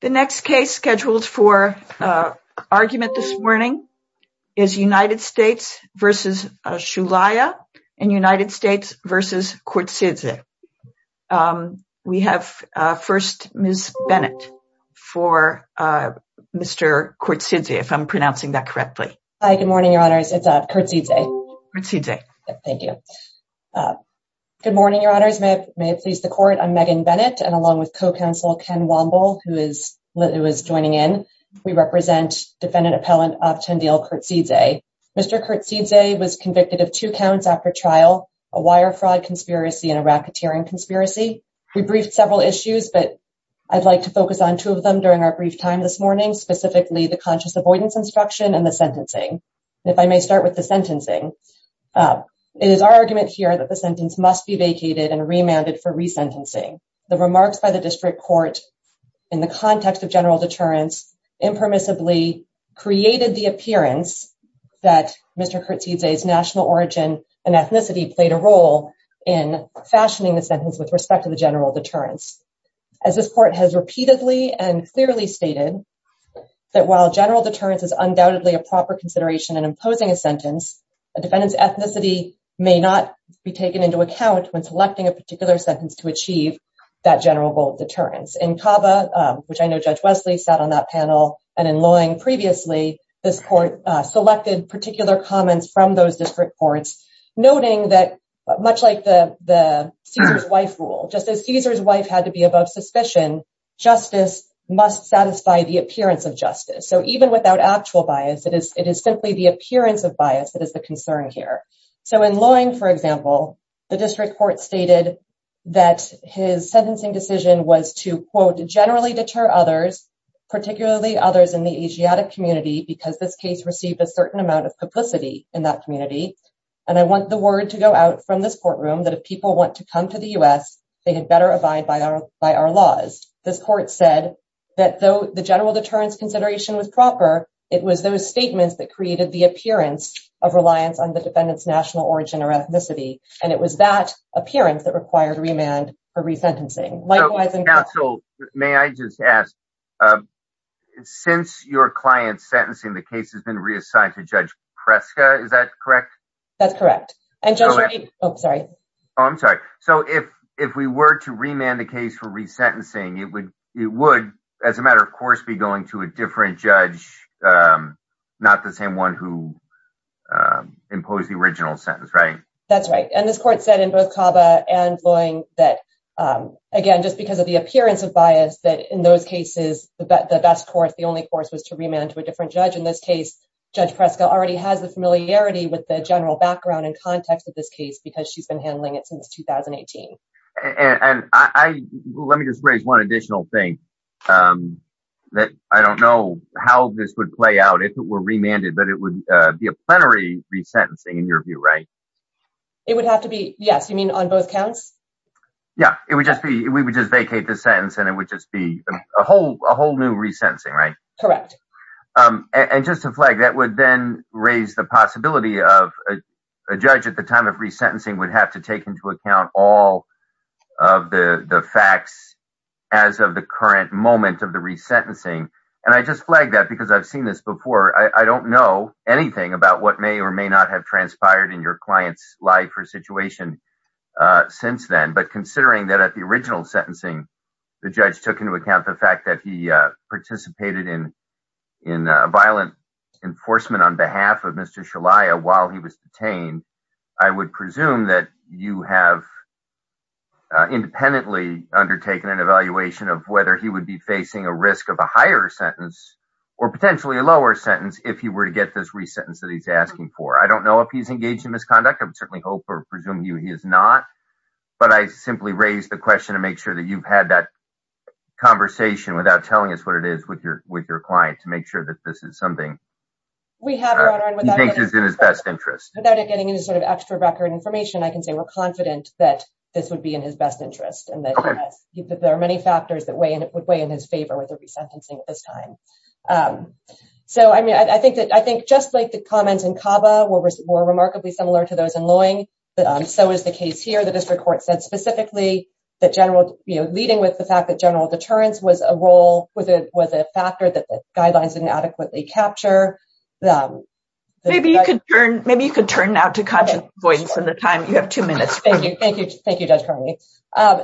The next case scheduled for argument this morning is United States v. Shulaya and United States v. Kertzidze. We have first Ms. Bennett for Mr. Kertzidze, if I'm pronouncing that correctly. Hi, good morning, Your Honors. It's Kertzidze. Kertzidze. Thank you. Good morning, Your Honors. May it please the Court. I'm Megan Bennett, and along with Co-Counsel Ken Womble, who is joining in, we represent Defendant Appellant Avtandil Kertzidze. Mr. Kertzidze was convicted of two counts after trial, a wire fraud conspiracy and a racketeering conspiracy. We briefed several issues, but I'd like to focus on two of them during our brief time this morning, specifically the conscious avoidance instruction and the sentencing. If I may start with the sentencing, it is our argument here that the sentence must be vacated and remanded for resentencing. The remarks by the District Court in the context of general deterrence impermissibly created the appearance that Mr. Kertzidze's national origin and ethnicity played a role in fashioning the sentence with respect to the general deterrence. As this Court has repeatedly and clearly stated that while general deterrence is undoubtedly a proper consideration in imposing a sentence, a defendant's ethnicity may not be taken into account when selecting a particular sentence to achieve that general deterrence. In CABA, which I know Judge Wesley sat on that panel, and in Loeing previously, this Court selected particular comments from those District Courts, noting that much like the Caesar's wife rule, just as Caesar's wife had to be above suspicion, justice must satisfy the appearance of justice. So even without actual bias, it is simply the appearance of bias that is the concern here. So in Loeing, for example, the District Court stated that his sentencing decision was to, quote, generally deter others, particularly others in the Asiatic community, because this case received a certain amount of publicity in that community. And I want the word to go out from this courtroom that if people want to come to the U.S., they had better abide by our laws. This Court said that though the general deterrence consideration was proper, it was those statements that created the appearance of reliance on the defendant's national origin or ethnicity, and it was that appearance that required remand for resentencing. Likewise in Cresca. Counsel, may I just ask, since your client's sentencing, the case has been reassigned to Judge Cresca, is that correct? That's correct. And Judge Reed, oh sorry. Oh, I'm sorry. So if we were to remand the case for resentencing, it would, as a matter of course, be going to a different judge, not the same one who imposed the original sentence, right? That's right. And this Court said in both CABA and Loeing that, again, just because of the appearance of bias, that in those cases, the best course, the only course was to remand to a different judge. In this case, Judge Cresca already has the familiarity with the general background and context of this case because she's been handling it since 2018. And I, let me just raise one additional thing, that I don't know how this would play out if it were remanded, but it would be a plenary resentencing in your view, right? It would have to be, yes, you mean on both counts? Yeah, it would just be, we would just vacate the sentence and it would just be a whole new resentencing, right? Correct. And just to flag, that would then raise the possibility of a judge at the time of resentencing would have to take into account all of the facts as of the current moment of the resentencing. And I just flagged that because I've seen this before. I don't know anything about what may or may not have transpired in your client's life or situation since then. But considering that at the original sentencing, the judge took into account the fact that he participated in violent enforcement on behalf of Mr. Shalaya while he was detained, I would presume that you have independently undertaken an evaluation of whether he would be facing a risk of a higher sentence or potentially a lower sentence if he were to get this resentence that he's asking for. I don't know if he's engaged in misconduct. I would certainly hope or presume he is not, but I simply raised the question to make sure that you've had that conversation without telling us what it is with your client to make sure that this is something he thinks is in his best interest. Without it getting any sort of extra record information, I can say we're confident that this would be in his best interest and that there are many factors that would weigh in his favor with the resentencing at this time. So I mean, I think just like the comments in CABA were remarkably similar to those in Loeing, so is the case here. The district court said specifically that leading with the fact that general deterrence was a factor that the guidelines didn't adequately capture. Maybe you could turn now to conscious avoidance in the time. You have two minutes. Thank you. Thank you, Judge Conley.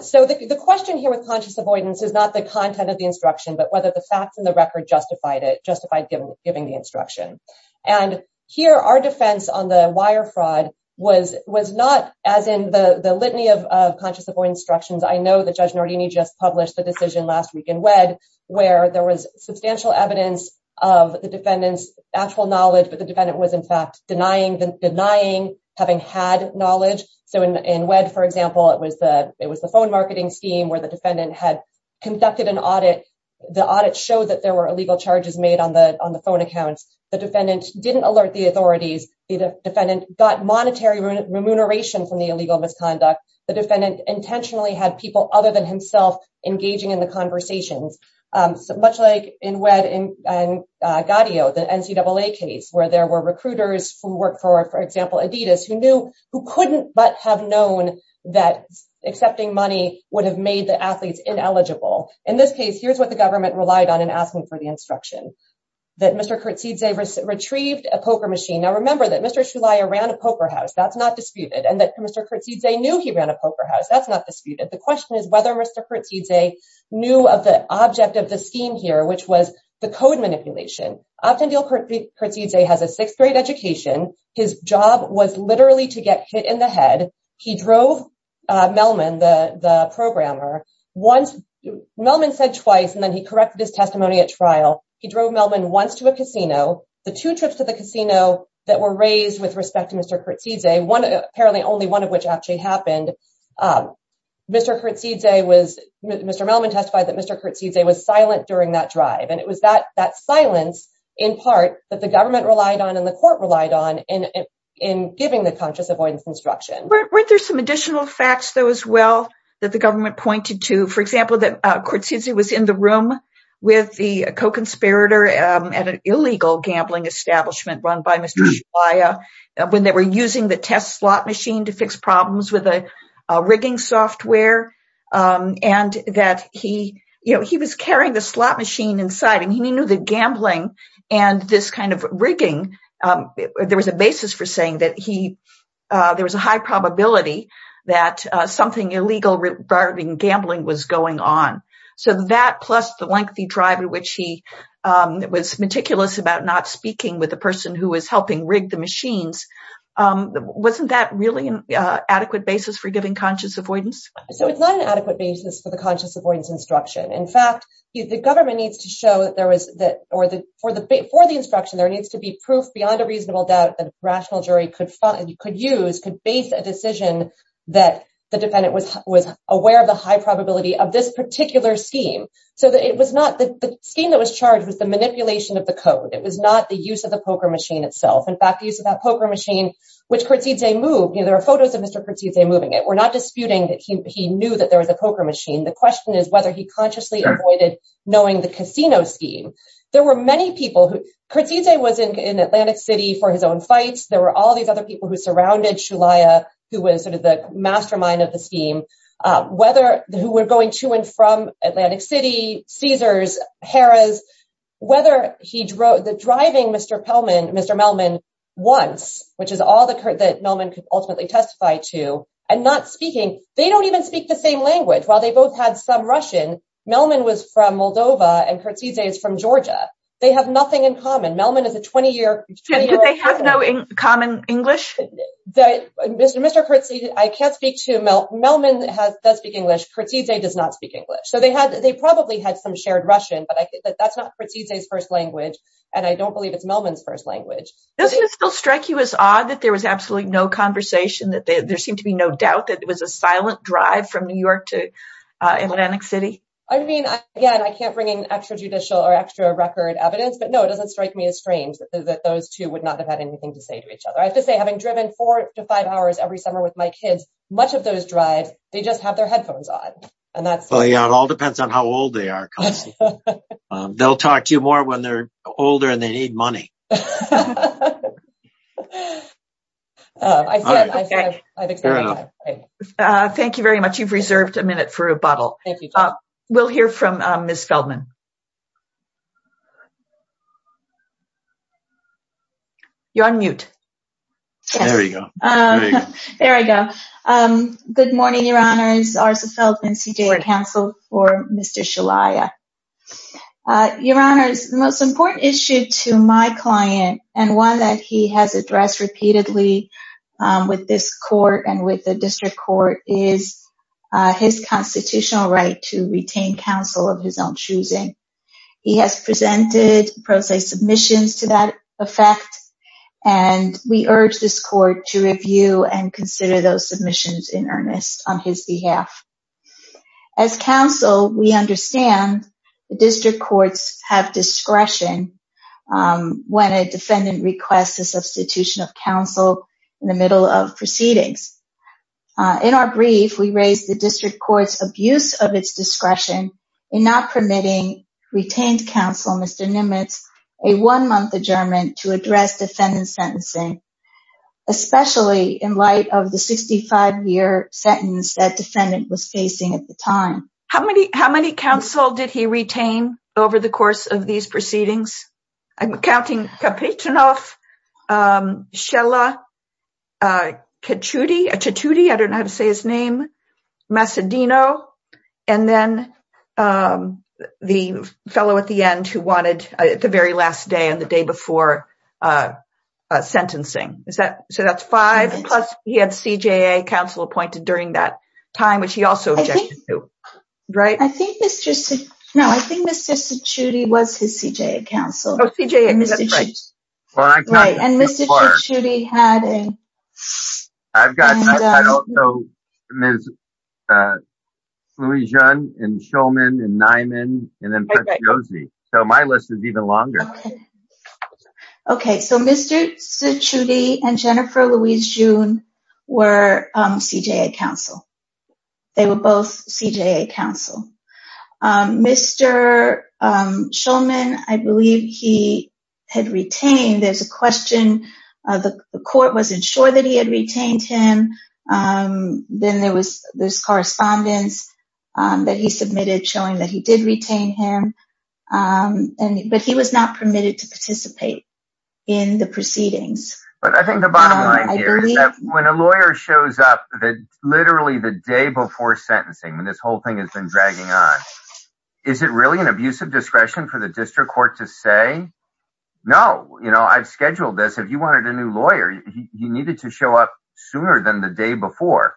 So the question here with conscious avoidance is not the content of the instruction, but whether the facts in the record justified giving the instruction. And here, our defense on the wire fraud was not as in the litany of instructions. I know that Judge Nardini just published the decision last week in WED, where there was substantial evidence of the defendant's actual knowledge, but the defendant was in fact denying having had knowledge. So in WED, for example, it was the phone marketing scheme where the defendant had conducted an audit. The audit showed that there were illegal charges made on the phone accounts. The defendant didn't alert the authorities. The defendant got monetary remuneration from the illegal misconduct. The defendant intentionally had people other than himself engaging in the conversations. So much like in WED and Gaudio, the NCAA case, where there were recruiters who worked for, for example, Adidas, who knew, who couldn't but have known that accepting money would have made the athletes ineligible. In this case, here's what the government relied on in asking for the instruction, that Mr. Kurtzidze retrieved a poker house. That's not disputed. And that Mr. Kurtzidze knew he ran a poker house. That's not disputed. The question is whether Mr. Kurtzidze knew of the object of the scheme here, which was the code manipulation. Avtandil Kurtzidze has a sixth grade education. His job was literally to get hit in the head. He drove Melman, the programmer, once, Melman said twice, and then he corrected his testimony at trial. He drove Melman once to a casino. The two trips to the one, apparently only one of which actually happened. Mr. Kurtzidze was, Mr. Melman testified that Mr. Kurtzidze was silent during that drive. And it was that silence, in part, that the government relied on and the court relied on in giving the conscious avoidance instruction. Weren't there some additional facts, though, as well, that the government pointed to, for example, that Kurtzidze was in the room with the co-conspirator at an illegal gambling establishment run by Mr. Shibuya when they were using the test slot machine to fix problems with the rigging software, and that he was carrying the slot machine inside and he knew the gambling and this kind of rigging. There was a basis for saying that there was a high probability that something illegal regarding gambling was going on. So that, plus the lengthy drive in which he was meticulous about not speaking with the person who was helping rig the machines, wasn't that really an adequate basis for giving conscious avoidance? So it's not an adequate basis for the conscious avoidance instruction. In fact, the government needs to show that there was, or for the instruction, there needs to be proof beyond a reasonable doubt that a rational jury could find, could use, could base a decision that the defendant was aware of the high probability of this particular scheme. So the scheme that was charged was the manipulation of the code. It was not the use of the poker machine itself. In fact, the use of that poker machine, which Kurtzidze moved, there are photos of Mr. Kurtzidze moving it. We're not disputing that he knew that there was a poker machine. The question is whether he consciously avoided knowing the casino scheme. There were many people who, Kurtzidze was in Atlantic City for his own fights, there were all these other people who surrounded Shulaya, who was sort of the mastermind of the Caesars, Harrah's, whether he drove, the driving Mr. Pellman, Mr. Melman once, which is all that Melman could ultimately testify to, and not speaking, they don't even speak the same language. While they both had some Russian, Melman was from Moldova and Kurtzidze is from Georgia. They have nothing in common. Melman is a 20-year-old person. Did they have no common English? Mr. Kurtzidze, I can't speak to, Melman does speak English, Kurtzidze does not speak English. They probably had some shared Russian, but that's not Kurtzidze's first language, and I don't believe it's Melman's first language. Doesn't it still strike you as odd that there was absolutely no conversation, that there seemed to be no doubt that it was a silent drive from New York to Atlantic City? I mean, again, I can't bring in extra judicial or extra record evidence, but no, it doesn't strike me as strange that those two would not have had anything to say to each other. I have to say, having driven four to five hours every summer with my kids, much of those drives, they just have their headphones on. It all depends on how old they are. They'll talk to you more when they're older and they need money. Thank you very much. You've reserved a minute for rebuttal. We'll hear from Ms. Feldman. You're on mute. There you go. There I go. Good morning, Your Honors. Arza Feldman, CJA Counsel for Mr. Shalaya. Your Honors, the most important issue to my client, and one that he has addressed repeatedly with this court and with the district court, is his constitutional right to retain counsel of his own choosing. He has presented pro se submissions to that effect, and we urge this court to review and consider those submissions in earnest on his behalf. As counsel, we understand the district courts have discretion when a defendant requests the substitution of counsel in the middle of proceedings. In our brief, we raise the district court's abuse of its discretion in not permitting retained counsel, Mr. Nimitz, a one-month adjournment to address defendant sentencing, especially in light of the 65-year sentence that defendant was facing at the time. How many counsel did he retain over the course of these proceedings? I'm counting Kapitonoff, Shalaya Kachuti, I don't know how to say his name, Macedino, and then the fellow at the end who wanted the very last day and the day before sentencing. So that's five, plus he had CJA counsel appointed during that time, which he also objected to, right? I think Mr. Kachuti was his CJA counsel. Oh, CJA, that's right. Right, and Mr. Kachuti had a... I've got, I've got also Ms. Louise Jun, and Shulman, and Nyman, and then Preskozy. So my list is even longer. Okay, so Mr. Kachuti and Jennifer Louise Jun were CJA counsel. They were both CJA counsel. Mr. Shulman, I believe he had retained, there's a question, the court wasn't sure that he had retained him. Then there was this correspondence that he submitted showing that he did retain him, but he was not permitted to participate in the proceedings. But I think the bottom line here is that when a lawyer shows up, literally the day before sentencing, when this whole thing has been dragging on, is it really an abuse of discretion for the district court to say, no, I've scheduled this. If you wanted a new lawyer, he needed to show up sooner than the day before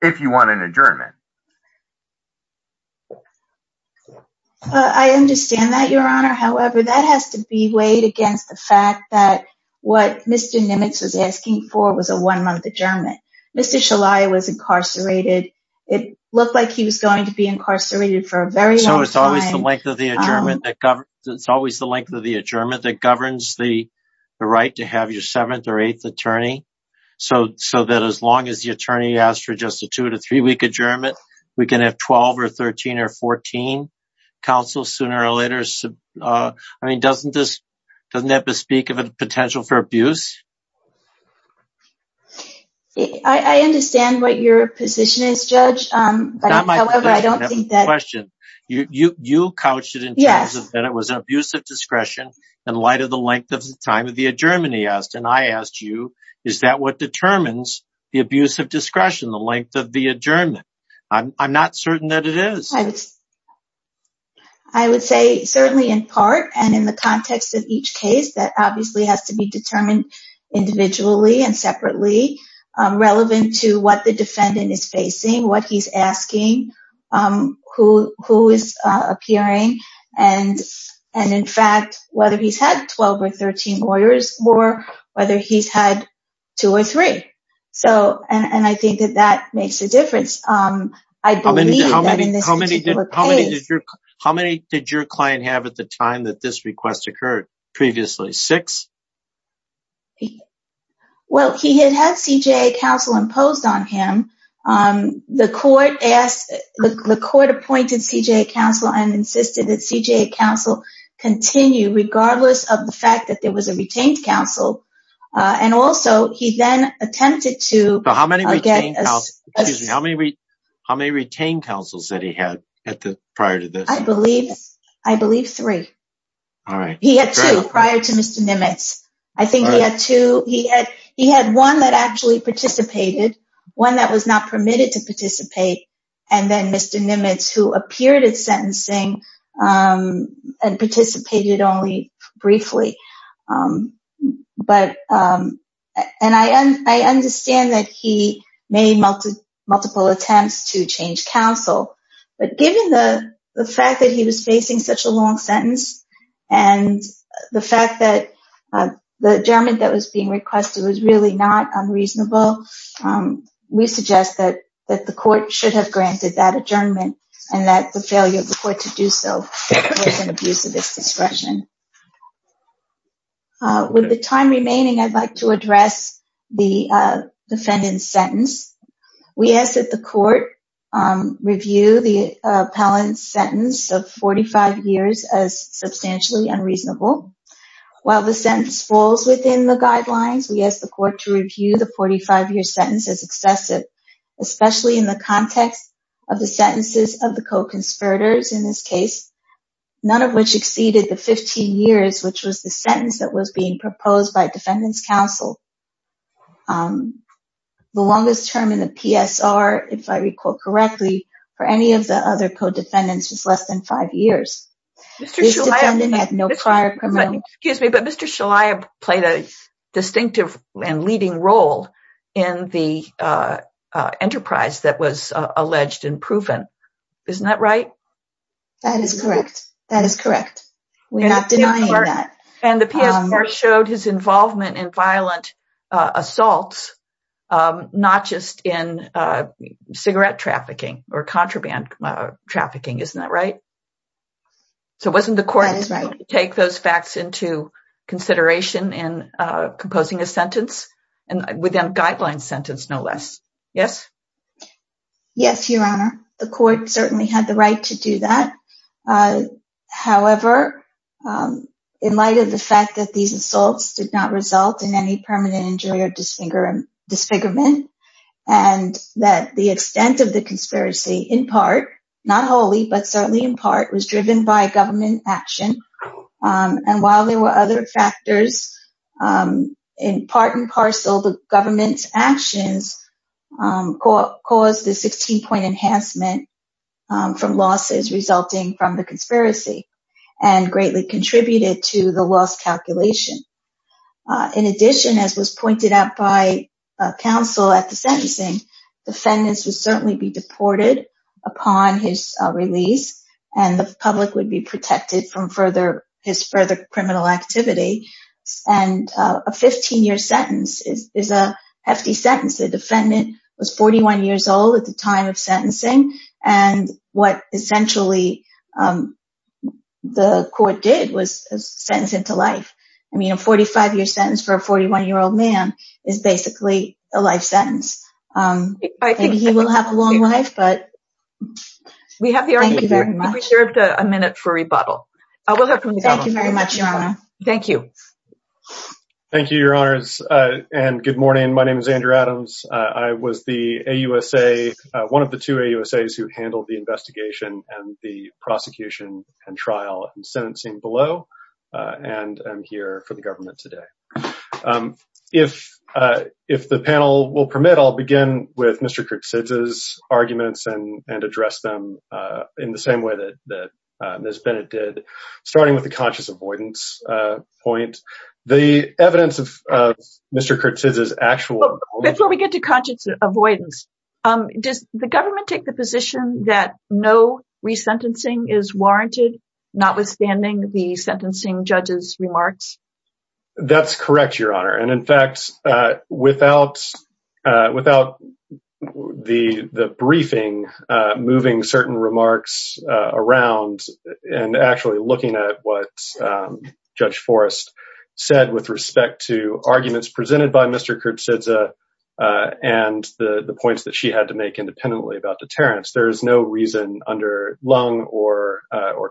if you want an adjournment. I understand that, Your Honor. However, that has to be weighed against the fact that what Mr. Nimitz was asking for was a one month adjournment. Mr. Shulman was incarcerated. It looked like he was going to be incarcerated for a very long time. So it's always the length of the adjournment that governs the right to have your seventh or eighth attorney. So that as long as the attorney asked for just a two to three week adjournment, we can have 12 or 13 or 14 counsel sooner or later. I mean, doesn't that bespeak of a potential for abuse? I understand what your position is, Judge. However, I don't think that... Question. You couched it in terms of that it was an abuse of discretion in light of the length of the time of the adjournment he asked. And I asked you, is that what determines the abuse of discretion, the length of the adjournment? I'm not certain that it is. I would say certainly in part and in the context of each case that obviously has to be determined individually and separately, relevant to what the defendant is facing, what he's asking, who is appearing. And in fact, whether he's had 12 or 13 lawyers or whether he's had two or three. So, and I think that that makes a difference. How many did your client have at the time that this request occurred? Previously, six? Well, he had had CJA counsel imposed on him. The court asked, the court appointed CJA counsel and insisted that CJA counsel continue regardless of the fact that there was a retained counsel. And also he then attempted to... How many retained counsels that he had prior to this? I believe three. All right. He had two prior to Mr. Nimitz. I think he had two. He had one that actually participated, one that was not permitted to participate. And then Mr. Nimitz who appeared at sentencing and participated only briefly. And I understand that he made multiple attempts to change counsel, but given the fact that he was facing such a long sentence and the fact that the adjournment that was being requested was really not unreasonable, we suggest that the court should have granted that adjournment and that the failure of the court to do so was an abuse of its discretion. With the time remaining, I'd like to address the defendant's sentence. We ask that the court review the appellant's sentence of 45 years as substantially unreasonable. While the sentence falls within the guidelines, we ask the court to review the 45-year sentence as excessive, especially in the context of the sentences of the co-conspirators in this case, none of which exceeded the 15 years, which was the sentence that was being proposed by defendant's counsel. The longest term in the PSR, if I recall correctly, for any of the other co-defendants was less than five years. This defendant had no prior criminal... Excuse me, but Mr. Shalaya played a distinctive and leading role in the enterprise that was alleged and proven. Isn't that right? That is correct. That is correct. We're not denying that. And the PSR showed his involvement in violent assaults, not just in cigarette trafficking or contraband trafficking. Isn't that right? So wasn't the court going to take those facts into consideration in composing a sentence within a guideline sentence, no less? Yes? Yes, Your Honor. The court certainly had the right to do that. However, in light of the fact that these assaults did not result in any permanent injury or disfigurement, and that the extent of the conspiracy in part, not wholly, but certainly in part was driven by government action. And while there were other factors in part and parcel, the government's actions caused the 16-point enhancement from losses resulting from the conspiracy and greatly contributed to the loss calculation. In addition, as was pointed out by counsel at the sentencing, defendants would certainly be deported upon his release and the public would be protected from his further criminal activity. And a 15-year sentence is a hefty sentence. The defendant was 41 years old at the time of sentencing, and what essentially the court did was sentence him to life. I mean, a 45-year sentence for a 41-year-old man is basically a life sentence. I think he will have a long life, but thank you very much. We have a minute for rebuttal. Thank you very much, Your Honor. Thank you. Thank you, Your Honors, and good morning. My name is Andrew Adams. I was the AUSA, one of the two AUSAs who handled the investigation and the prosecution and trial and sentencing below, and I'm here for the government today. If the panel will permit, I'll begin with Mr. Kurtzidze's arguments and address them in the same way that Ms. Bennett did, starting with the conscious avoidance point. The evidence of Mr. Kurtzidze's actual- Before we get to conscious avoidance, does the government take the position that no resentencing is warranted, notwithstanding the sentencing judge's remarks? That's correct, Your Honor, and in fact, without the briefing, moving certain remarks around and actually looking at what Judge Forrest said with respect to arguments presented by Mr. Kurtzidze and the points that she had to make independently about deterrence, there is no reason under Leung or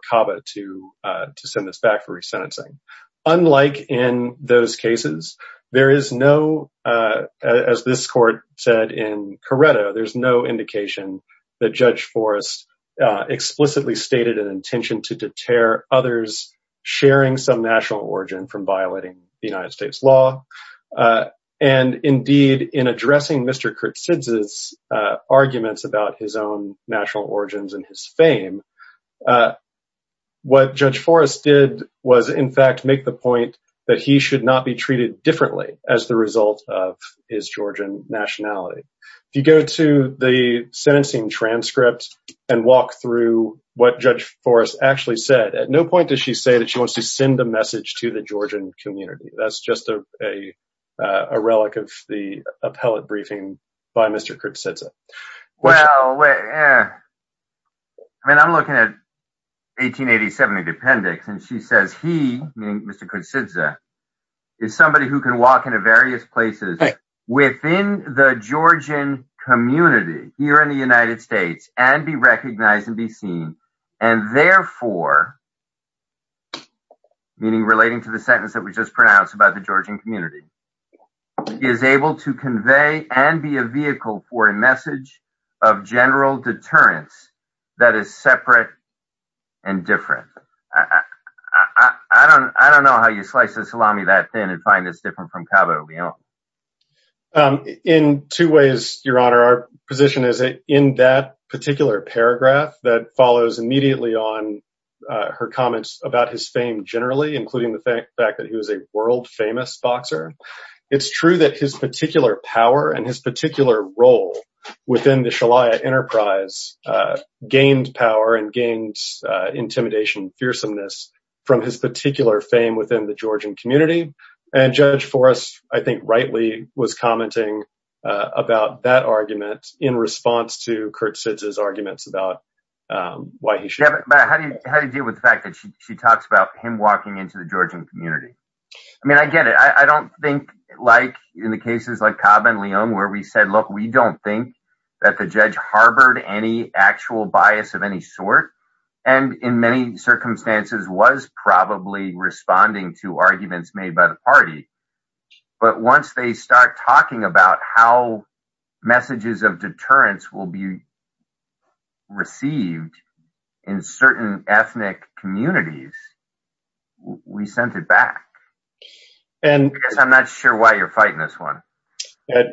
Cava to send this back for resentencing. Unlike in those cases, there is no, as this court said in Corretto, there's no indication that Judge Forrest explicitly stated an intention to deter others sharing some national origin from violating the United States law, and indeed, in addressing Mr. Kurtzidze's arguments about his own national origins and his fame, what Judge Forrest did was, in fact, make the point that he should not be treated differently as the result of his Georgian nationality. If you go to the sentencing transcript and walk through what Judge Forrest actually said, at no point does she say that she wants to send a message to the Georgian community. That's just a relic of the appellate briefing by Mr. Kurtzidze. Well, I mean, I'm looking at 1887 in the appendix, and she says he, meaning Mr. Kurtzidze, is somebody who can walk into various places within the Georgian community here in the United States, and is able to convey and be a vehicle for a message of general deterrence that is separate and different. I don't know how you slice the salami that thin and find it's different from Cabo Leon. In two ways, Your Honor, our position is that in that particular paragraph that follows immediately on her comments about his fame generally, including the fact that he was a world-famous boxer, it's true that his particular power and his particular role within the Shalia enterprise gained power and gained intimidation and fearsomeness from his particular fame within the Georgian community, and Judge Forrest, I think rightly, was commenting about that argument in response to Kurtzidze's arguments about why he should. Yeah, but how do you deal with the fact that she talks about him walking into the Georgian community? I mean, I get it. I don't think like in the cases like Cabo Leon where we said, look, we don't think that the judge harbored any actual bias of any sort, and in many circumstances was probably responding to arguments made by the party, but once they start talking about how messages of deterrence will be received in certain ethnic communities, we sent it back. I guess I'm not sure why you're fighting this one.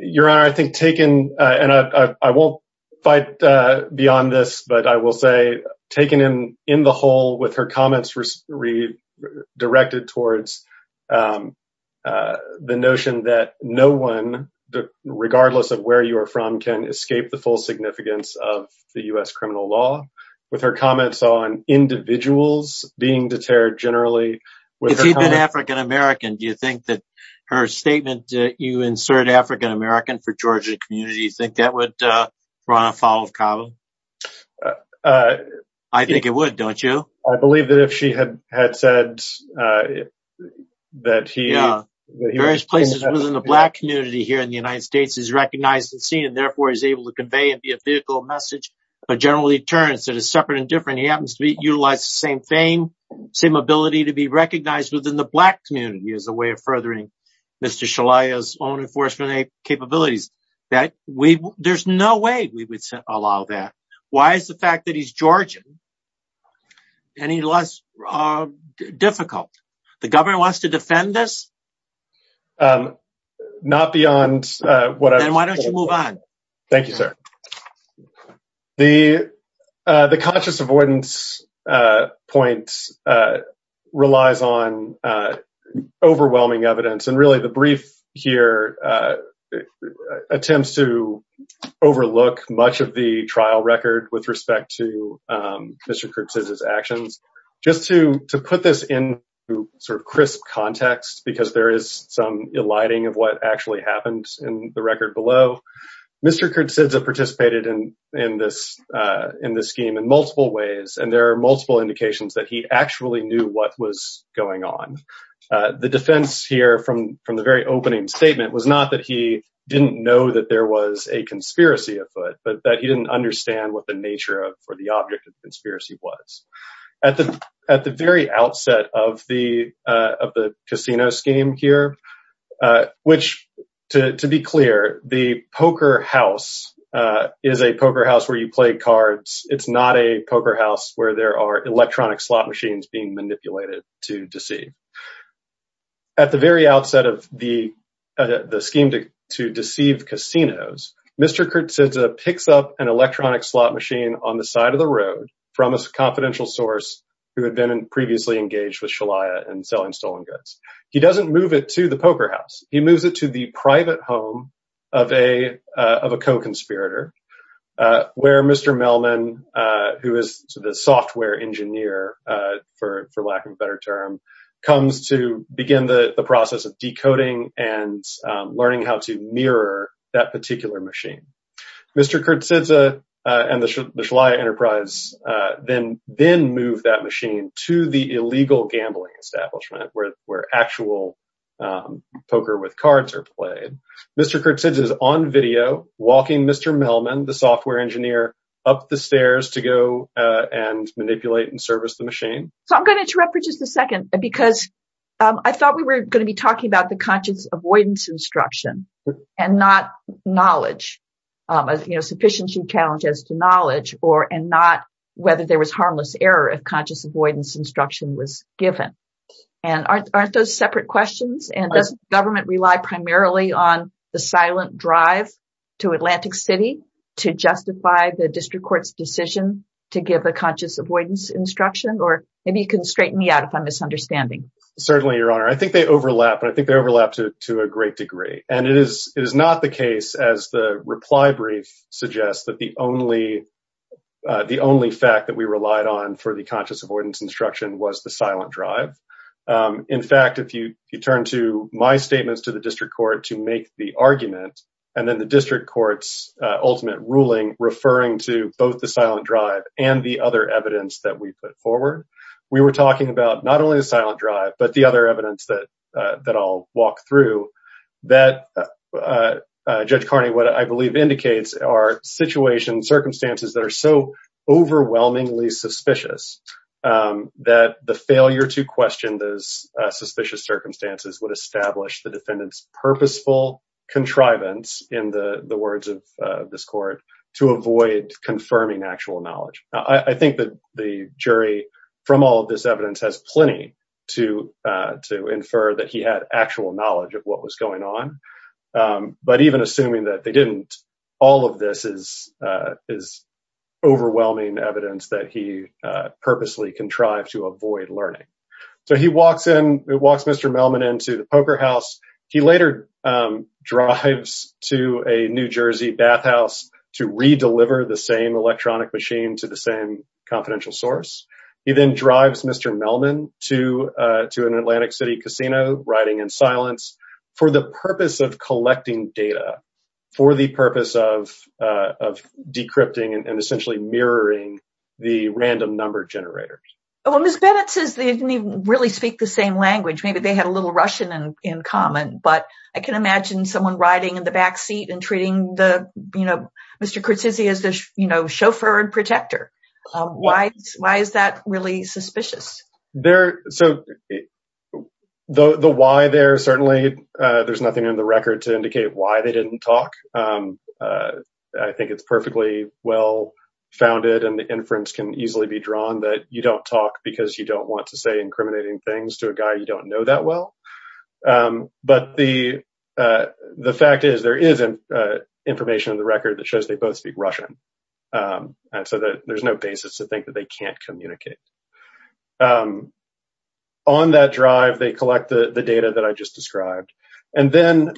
Your Honor, I think taken, and I won't fight beyond this, but I will say taken in the whole with her comments redirected towards the notion that no one, regardless of where you are from, can escape the full significance of the U.S. criminal law with her comments on individuals being deterred generally. If he'd been African American, do you think that her statement that you insert African American for Georgia community, you think that would run afoul of Cabo? I think it would, don't you? I believe that if she had said that he... Various places within the Black community here in the United States is recognized and seen, and therefore is able to convey and be a vehicle message, but generally deterrence that is separate and different. He happens to utilize the same thing, same ability to be recognized within the Black community as a way of furthering Mr. Shalaya's own enforcement capabilities. There's no way we would allow that. Why is the fact that he's Georgian any less difficult? The government wants to defend this? Not beyond what I... Then why don't you move on? Thank you, sir. The conscious avoidance point relies on overwhelming evidence, and really the overlook much of the trial record with respect to Mr. Kurtz's actions. Just to put this in sort of crisp context, because there is some alighting of what actually happened in the record below. Mr. Kurtz participated in this scheme in multiple ways, and there are multiple indications that he actually knew what was going on. The defense here from the very opening statement was not that he didn't know that there was a conspiracy afoot, but that he didn't understand what the nature of or the object of the conspiracy was. At the very outset of the casino scheme here, which to be clear, the poker house is a poker house where you play cards. It's not a poker house where there are electronic slot machines being manipulated to deceive. At the very outset of the scheme to deceive casinos, Mr. Kurtz picks up an electronic slot machine on the side of the road from a confidential source who had been previously engaged with Shalia in selling stolen goods. He doesn't move it to the poker house. He moves it to the private home of a co-conspirator, where Mr. Melman, who is the software engineer, for lack of a better term, comes to begin the process of decoding and learning how to mirror that particular machine. Mr. Kurtz and the Shalia enterprise then move that machine to the illegal gambling establishment where actual poker with cards are played. Mr. Kurtz is on video walking Mr. Melman, the software engineer, up the stairs to go and manipulate and service the machine. I'm going to interrupt for just a second because I thought we were going to be talking about the conscious avoidance instruction and not knowledge, a sufficient challenge as to knowledge, and not whether there was harmless error if conscious avoidance instruction was given. Aren't those separate questions? Does government rely primarily on the silent drive to Atlantic City to justify the district court's decision to give a conscious avoidance instruction? Maybe you can straighten me out if I'm misunderstanding. Certainly, Your Honor. I think they overlap, but I think they overlap to a great degree. It is not the case, as the reply brief suggests, that the only fact that we relied on for the conscious avoidance instruction was the silent drive. In fact, if you turn to my statements to the district court to make the argument, and then the district court's ultimate ruling referring to both the silent drive and the other evidence that we put forward, we were talking about not only the silent drive, but the other evidence that I'll walk through that, Judge Carney, what I believe indicates are situations, circumstances that are so overwhelmingly suspicious that the failure to question those contrivance, in the words of this court, to avoid confirming actual knowledge. I think that the jury, from all of this evidence, has plenty to infer that he had actual knowledge of what was going on. But even assuming that they didn't, all of this is overwhelming evidence that he purposely contrived to avoid learning. So he walks in, he walks Mr. Melman into the poker house. He later drives to a New Jersey bathhouse to re-deliver the same electronic machine to the same confidential source. He then drives Mr. Melman to an Atlantic City casino, riding in silence, for the purpose of collecting data, for the purpose of decrypting and essentially mirroring the random number generators. Well, Ms. Bennett says they didn't even speak the same language. Maybe they had a little Russian in common, but I can imagine someone riding in the backseat and treating Mr. Cortese as their chauffeur and protector. Why is that really suspicious? The why there, certainly, there's nothing in the record to indicate why they didn't talk. I think it's perfectly well-founded and the inference can easily be things to a guy you don't know that well. But the fact is there is information in the record that shows they both speak Russian. And so there's no basis to think that they can't communicate. On that drive, they collect the data that I just described. And then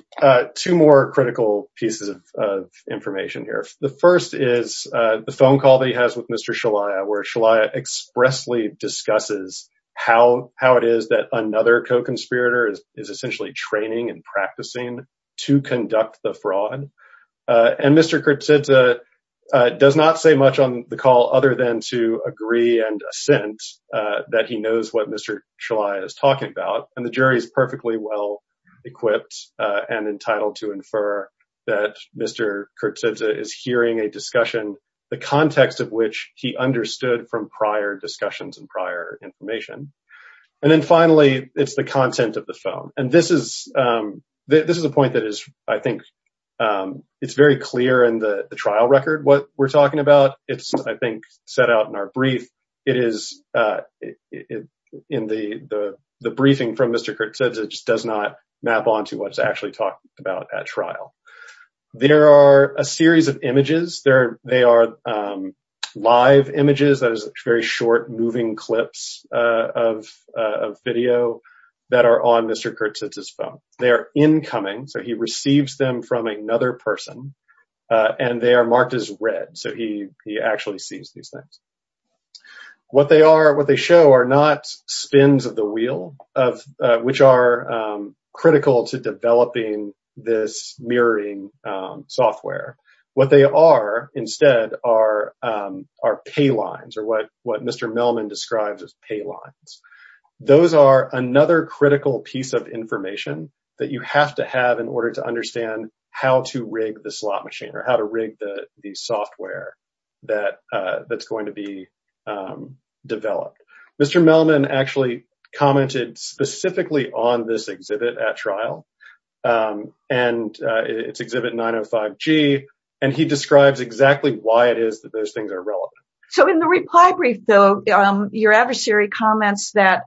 two more critical pieces of information here. The first is the phone call that he has with Mr. Shalaya, where Shalaya expressly discusses how it is that another co-conspirator is essentially training and practicing to conduct the fraud. And Mr. Cortese does not say much on the call other than to agree and assent that he knows what Mr. Shalaya is talking about. And the jury is perfectly well equipped and entitled to infer that Mr. Cortese is hearing a discussion, the context of which he understood from prior discussions and prior information. And then finally, it's the content of the phone. And this is a point that is, I think, it's very clear in the trial record what we're talking about. It's, I think, set out in our brief. It is in the briefing from Mr. Cortese, it just does not map onto what's actually talked about at trial. There are a series of images. They are live images, that is very short, moving clips of video that are on Mr. Cortese's phone. They are incoming, so he receives them from another person. And they are marked as red, so he actually sees these things. What they are, what they show are not spins of the wheel, which are critical to developing this mirroring software. What they are instead are pay lines, or what Mr. Melman describes as pay lines. Those are another critical piece of information that you have to have in order to understand how to rig the slot machine, or how to rig the on this exhibit at trial. And it's exhibit 905G, and he describes exactly why it is that those things are relevant. So in the reply brief, though, your adversary comments that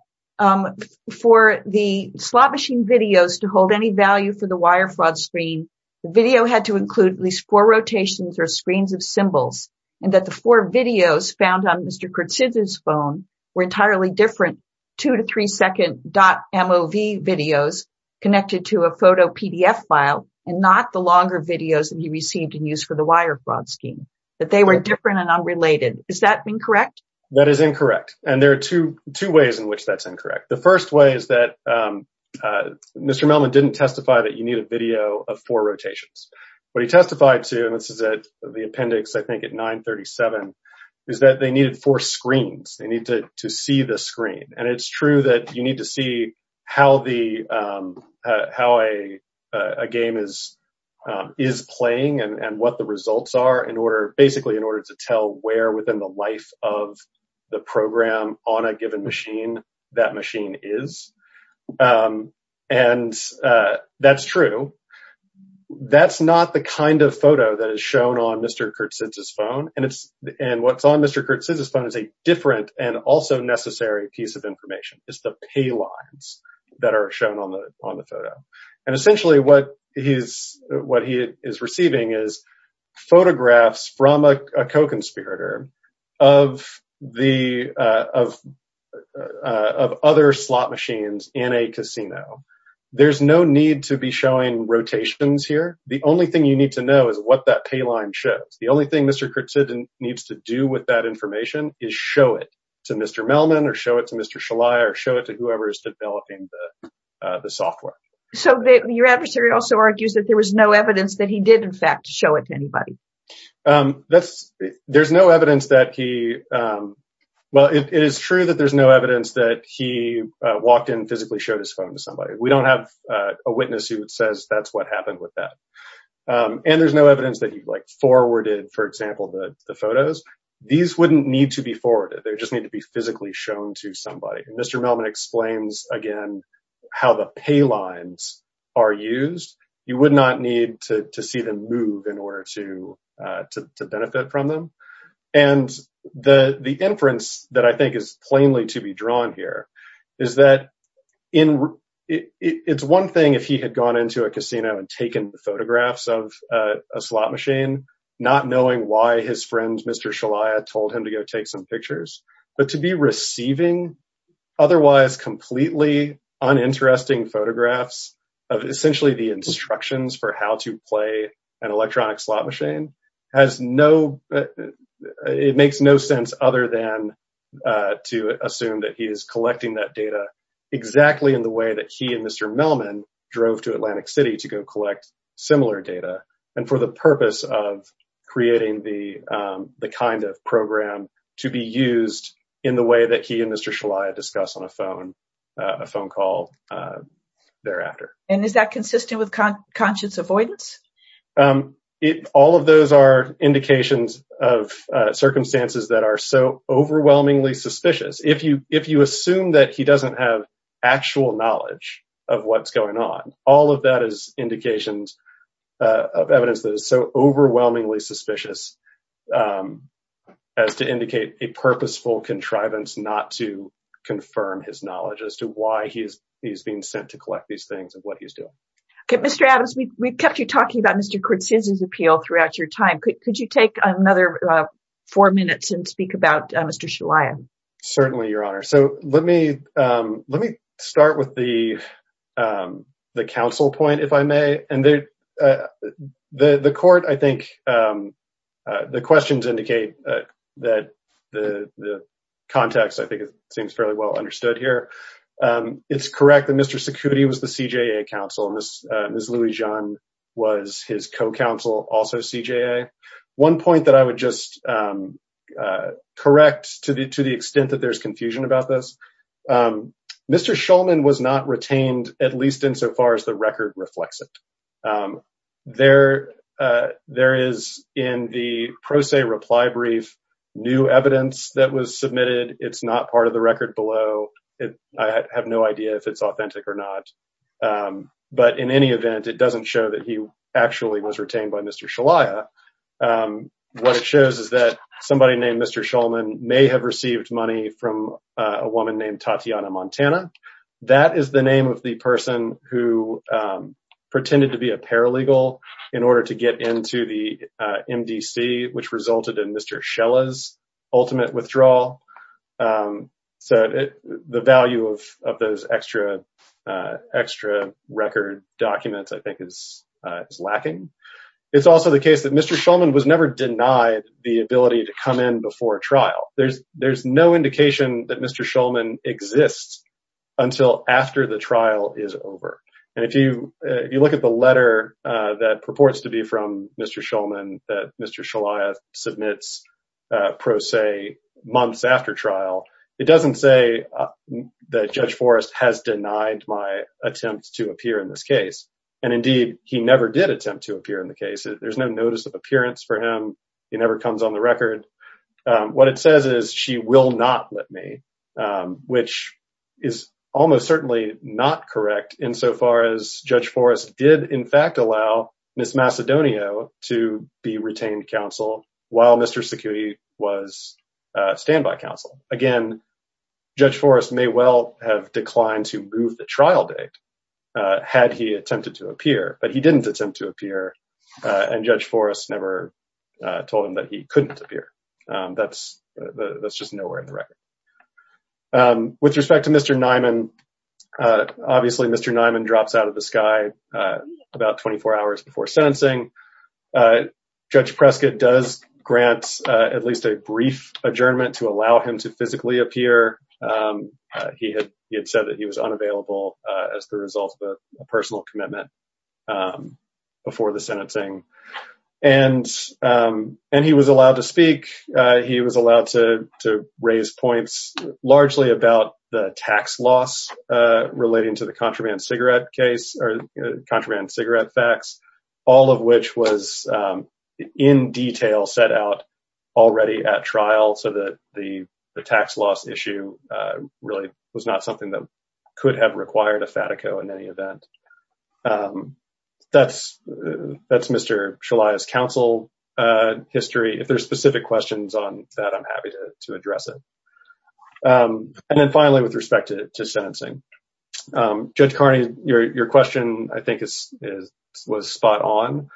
for the slot machine videos to hold any value for the wire fraud screen, the video had to include at least four rotations or screens of symbols, and that the four videos found on Mr. Cortese's phone were entirely different, two to three second .MOV videos connected to a photo PDF file, and not the longer videos that he received and used for the wire fraud scheme, that they were different and unrelated. Is that incorrect? That is incorrect. And there are two ways in which that's incorrect. The first way is that Mr. Melman didn't testify that you need a video of four rotations. What he testified to, this is at the appendix, I think at 937, is that they needed four screens. They need to see the screen. And it's true that you need to see how a game is playing and what the results are in order, basically in order to tell where within the life of the program on a given machine that machine is. And that's true. That's not the kind of photo that is shown on Mr. Cortese's phone. And what's on Mr. Cortese's phone is a different and also necessary piece of information. It's the pay lines that are shown on the photo. And essentially what he is receiving is photographs from a conspirator of other slot machines in a casino. There's no need to be showing rotations here. The only thing you need to know is what that pay line shows. The only thing Mr. Cortese needs to do with that information is show it to Mr. Melman or show it to Mr. Shillai or show it to whoever is developing the software. So your adversary also argues that there was no evidence that he did, in fact, show it to anybody. There's no evidence that he, well, it is true that there's no evidence that he walked in physically showed his phone to somebody. We don't have a witness who says that's what happened with that. And there's no evidence that he like forwarded, for example, the photos. These wouldn't need to be forwarded. They just need to be physically shown to somebody. Mr. Melman explains again how the pay lines are used. You would not need to see them move in order to benefit from them. And the inference that I think is plainly to be drawn here is that it's one thing if he had gone into a casino and taken photographs of a slot machine, not knowing why his friend Mr. Shillai told him to go take some pictures, but to be receiving otherwise completely uninteresting photographs of essentially the instructions for how to play an electronic slot machine has no, it makes no sense other than to assume that he is collecting that data exactly in the way that he and Mr. Melman drove to Atlantic City to go collect similar data and for the purpose of creating the kind of program to be used in the way that he and Mr. Shillai discuss on a phone call thereafter. And is that consistent with conscious avoidance? All of those are indications of circumstances that are so overwhelmingly suspicious. If you assume that he doesn't have actual knowledge of what's going on, all of that is indications of evidence that is so overwhelmingly suspicious as to indicate a purposeful contrivance not to confirm his knowledge as to why he's being sent to collect these things and what he's doing. Okay, Mr. Adams, we've kept you talking about Mr. Kortzenz's appeal throughout your time. Could you take another four minutes and speak about Mr. Shillai? Certainly, Your Honor. So let me start with the counsel point, if I may. And the court, I think, the questions indicate that the context, I think it seems fairly well understood here. It's correct that Mr. Cicutti was the CJA counsel and Ms. Louis-Jeanne was his co-counsel, also CJA. One point that I would just correct, to the extent that there's confusion about this, Mr. Shulman was not retained, at least insofar as the record reflects it. There is in the pro se reply brief, new evidence that was submitted. It's not part of the record below. I have no idea if it's authentic or not. But in any event, it doesn't show that he actually was retained by Mr. Shillai. What it shows is that somebody named Mr. Shulman may have received money from a woman named Tatiana Montana. That is the name of the person who pretended to be a paralegal in order to get into the MDC, which resulted in Mr. Shillai's It's also the case that Mr. Shillman was never denied the ability to come in before a trial. There's no indication that Mr. Shillman exists until after the trial is over. And if you look at the letter that purports to be from Mr. Shillman, that Mr. Shillai submits pro se months after trial, it doesn't say that Judge Forrest has denied my attempt to appear in this case. And indeed, he never did attempt to appear in the case. There's no notice of appearance for him. He never comes on the record. What it says is she will not let me, which is almost certainly not correct insofar as Judge Forrest did, in fact, allow Ms. Macedonio to be retained counsel while Mr. Security was standby counsel. Again, Judge Forrest may well have declined to move the but he didn't attempt to appear. And Judge Forrest never told him that he couldn't appear. That's just nowhere in the record. With respect to Mr. Nyman, obviously, Mr. Nyman drops out of the sky about 24 hours before sentencing. Judge Prescott does grant at least a brief adjournment to allow him to physically appear. He had said that he was unavailable as the result of a personal commitment before the sentencing. And he was allowed to speak. He was allowed to raise points largely about the tax loss relating to the contraband cigarette case or contraband cigarette fax, all of which was in detail set out already at trial so that the tax loss issue really was not something that could have required a FATICO in any event. That's Mr. Shalaya's counsel history. If there's specific questions on that, I'm happy to address it. And then finally, with respect to sentencing, Judge Carney, your question, I think, was spot on.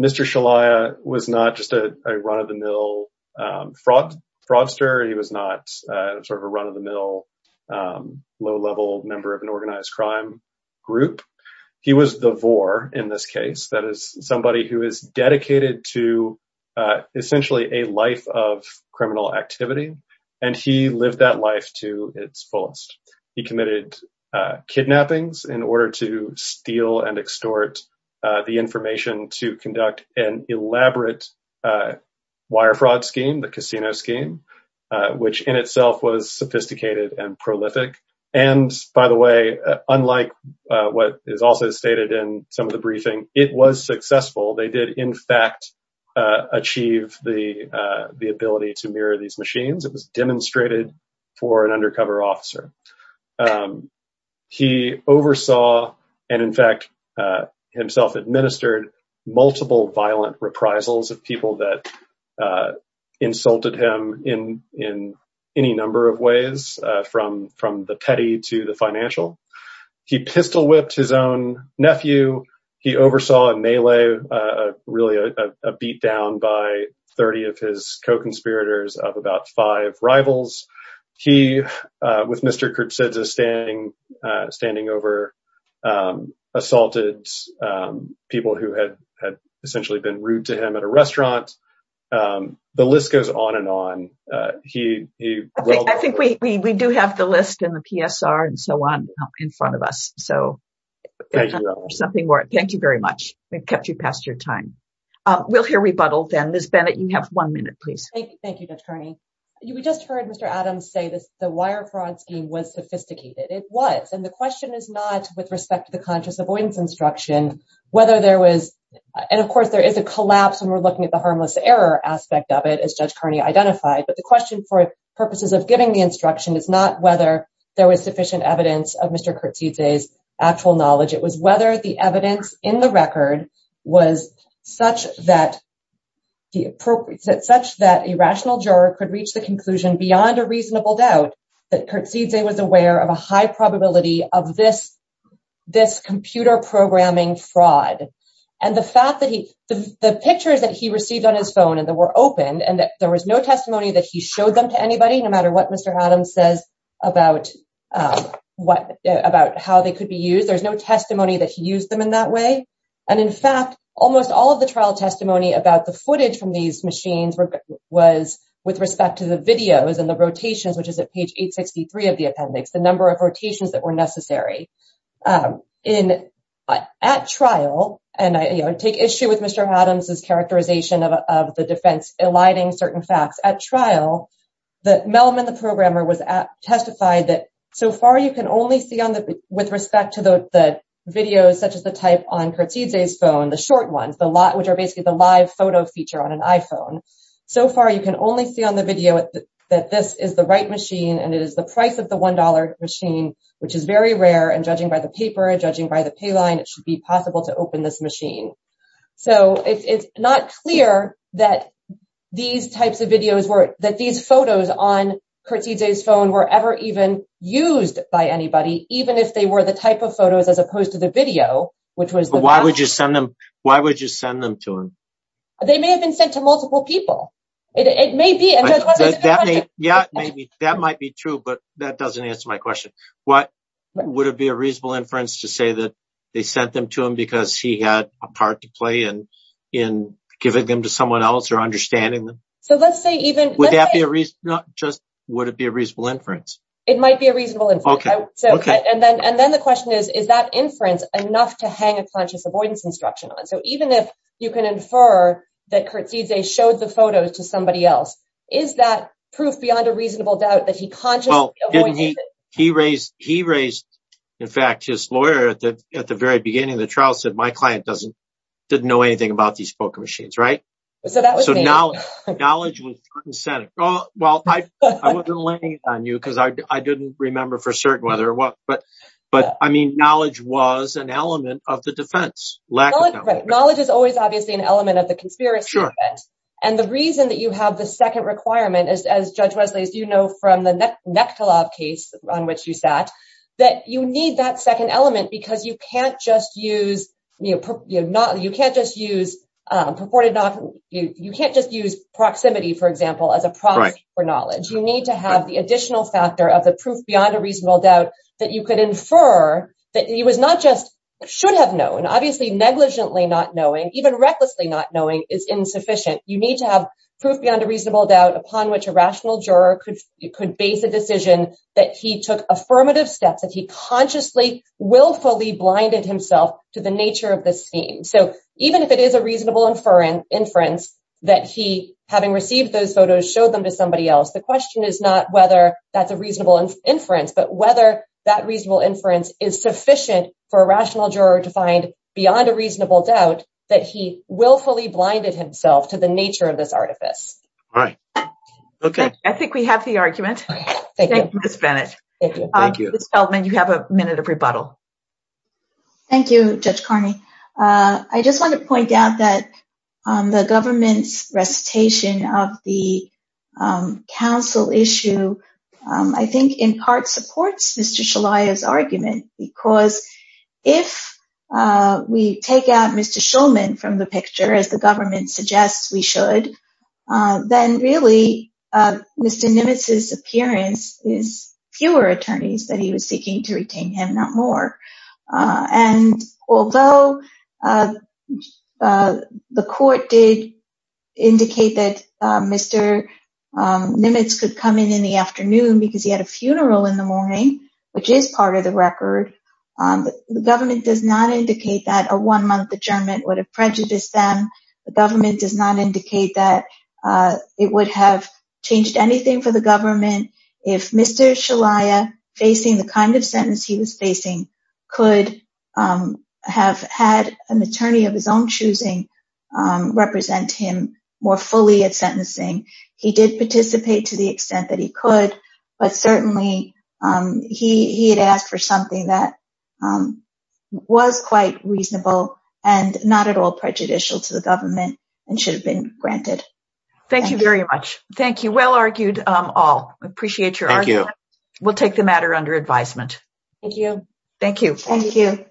Mr. Shalaya was not just a run-of-the-mill fraudster. He was not sort of a run-of-the-mill low-level member of an organized crime group. He was the vore in this case. That is somebody who is dedicated to essentially a life of criminal activity. And he lived that life to its fullest. He committed kidnappings in order to steal and extort the information to conduct an elaborate wire fraud scheme, the casino scheme, which in itself was sophisticated and prolific. And by the way, unlike what is also stated in some of the briefing, it was successful. They did, in fact, achieve the ability to mirror these machines. It was demonstrated for an undercover officer. He oversaw and, in fact, himself administered multiple violent reprisals of people that insulted him in any number of ways, from the petty to the financial. He pistol whipped his own nephew. He oversaw a melee, really a beatdown by 30 of his co-conspirators of about five rivals. He, with Mr. Kurt Sidza standing over, assaulted people who had essentially been rude to him at a restaurant. The list goes on and on. I think we do have the list and the PSR and so on in front of us. Thank you very much. We've kept you past your time. We'll hear rebuttal then. Ms. Bennett, you have one minute, please. Thank you, Judge Kearney. We just heard Mr. Adams say this, the wire fraud scheme was sophisticated. It was. And the question is not with respect to the conscious avoidance instruction, whether there was, and of course, there is a collapse when we're looking at the harmless error aspect of it, as Judge Kearney identified. But the question for purposes of giving the instruction is not whether there was sufficient evidence of Mr. Kurt Sidza's actual knowledge. It was whether the evidence in the record was such that it's such that a rational juror could reach the conclusion beyond a reasonable doubt that Kurt Sidza was aware of a high probability of this computer programming fraud. And the fact that he, the pictures that he received on his phone and that were opened, and that there was no testimony that he showed them to anybody, no matter what Mr. Adams says about how they could be used. There's no testimony that he used them in that way. And in fact, almost all of the trial testimony about the footage from these machines was with respect to the videos and the rotations, which is at page 863 of the appendix, the number of rotations that were necessary. At trial, and I take issue with Mr. Adams's characterization of the defense aligning certain facts. At trial, that Melman, the programmer, was at, testified that so far, you can only see on the, with respect to the videos, such as the type on Kurt Sidza's phone, the short ones, the lot, which are basically the live photo feature on an iPhone. So far, you can only see on the video that this is the right machine. And it is the price of the $1 machine, which is very rare. And judging by the paper, judging by the payline, it should be possible to open this machine. So it's not clear that these types of videos were, that these photos on Kurt Sidza's phone were ever even used by anybody, even if they were the type of photos, as opposed to the video, which was- But why would you send them, why would you send them to him? They may have been sent to multiple people. It may be. Yeah, maybe that might be true, but that doesn't answer my question. What would it be a reasonable inference to say that they sent them to him because he had a part to play in giving them to someone else or understanding them? Would that be a reason, just would it be a reasonable inference? It might be a reasonable inference. And then the question is, is that inference enough to hang a conscious avoidance instruction on? So even if you can infer that Kurt Sidza showed the photos to somebody else, is that proof beyond a reasonable doubt that he consciously avoided it? He raised, in fact, his lawyer at the very beginning of the trial said, my client didn't know anything about these poker machines, right? So that was me. So knowledge was- Well, I wasn't laying it on you because I didn't remember for certain whether or what, but I mean, knowledge was an element of the defense, lack of knowledge. Knowledge is always obviously an element of the conspiracy. And the reason that you have the second requirement, as Judge Wesley, as you know, from the Nekhtalov case on which you sat, that you need that second element because you can't just use, you can't just use proximity, for example, as a proxy for knowledge. You need to have the additional factor of the proof beyond a reasonable doubt that you could infer that he was not just, should have known, obviously negligently not knowing, even recklessly not knowing is insufficient. You need to have proof beyond a reasonable doubt upon which a rational juror could base a decision that he took affirmative steps, that he consciously, willfully blinded himself to the nature of the scene. So even if it is a reasonable inference that he, having received those photos, showed them to somebody else, the question is not whether that's a reasonable inference, but whether that reasonable inference is sufficient for a rational juror to find beyond a reasonable doubt that he willfully blinded himself to the nature of this artifice. I think we have the argument. Thank you, Ms. Bennett. Ms. Feldman, you have a minute of rebuttal. Thank you, Judge Carney. I just want to point out that the government's recitation of the counsel issue, I think in part supports Mr. Shulman's argument, because if we take out Mr. Shulman from the picture, as the government suggests we should, then really Mr. Nimitz's that he was seeking to retain him, not more. And although the court did indicate that Mr. Nimitz could come in in the afternoon because he had a funeral in the morning, which is part of the record, the government does not indicate that a one-month adjournment would have prejudiced them. The government does not indicate that it would have changed anything for the government if Mr. Shulman, facing the kind of sentence he was facing, could have had an attorney of his own choosing represent him more fully at sentencing. He did participate to the extent that he could, but certainly he had asked for something that was quite reasonable and not at all prejudicial to the government and should have been granted. Thank you very much. Thank you. Well argued all. We appreciate your argument. We'll take the matter under advisement. Thank you. Thank you.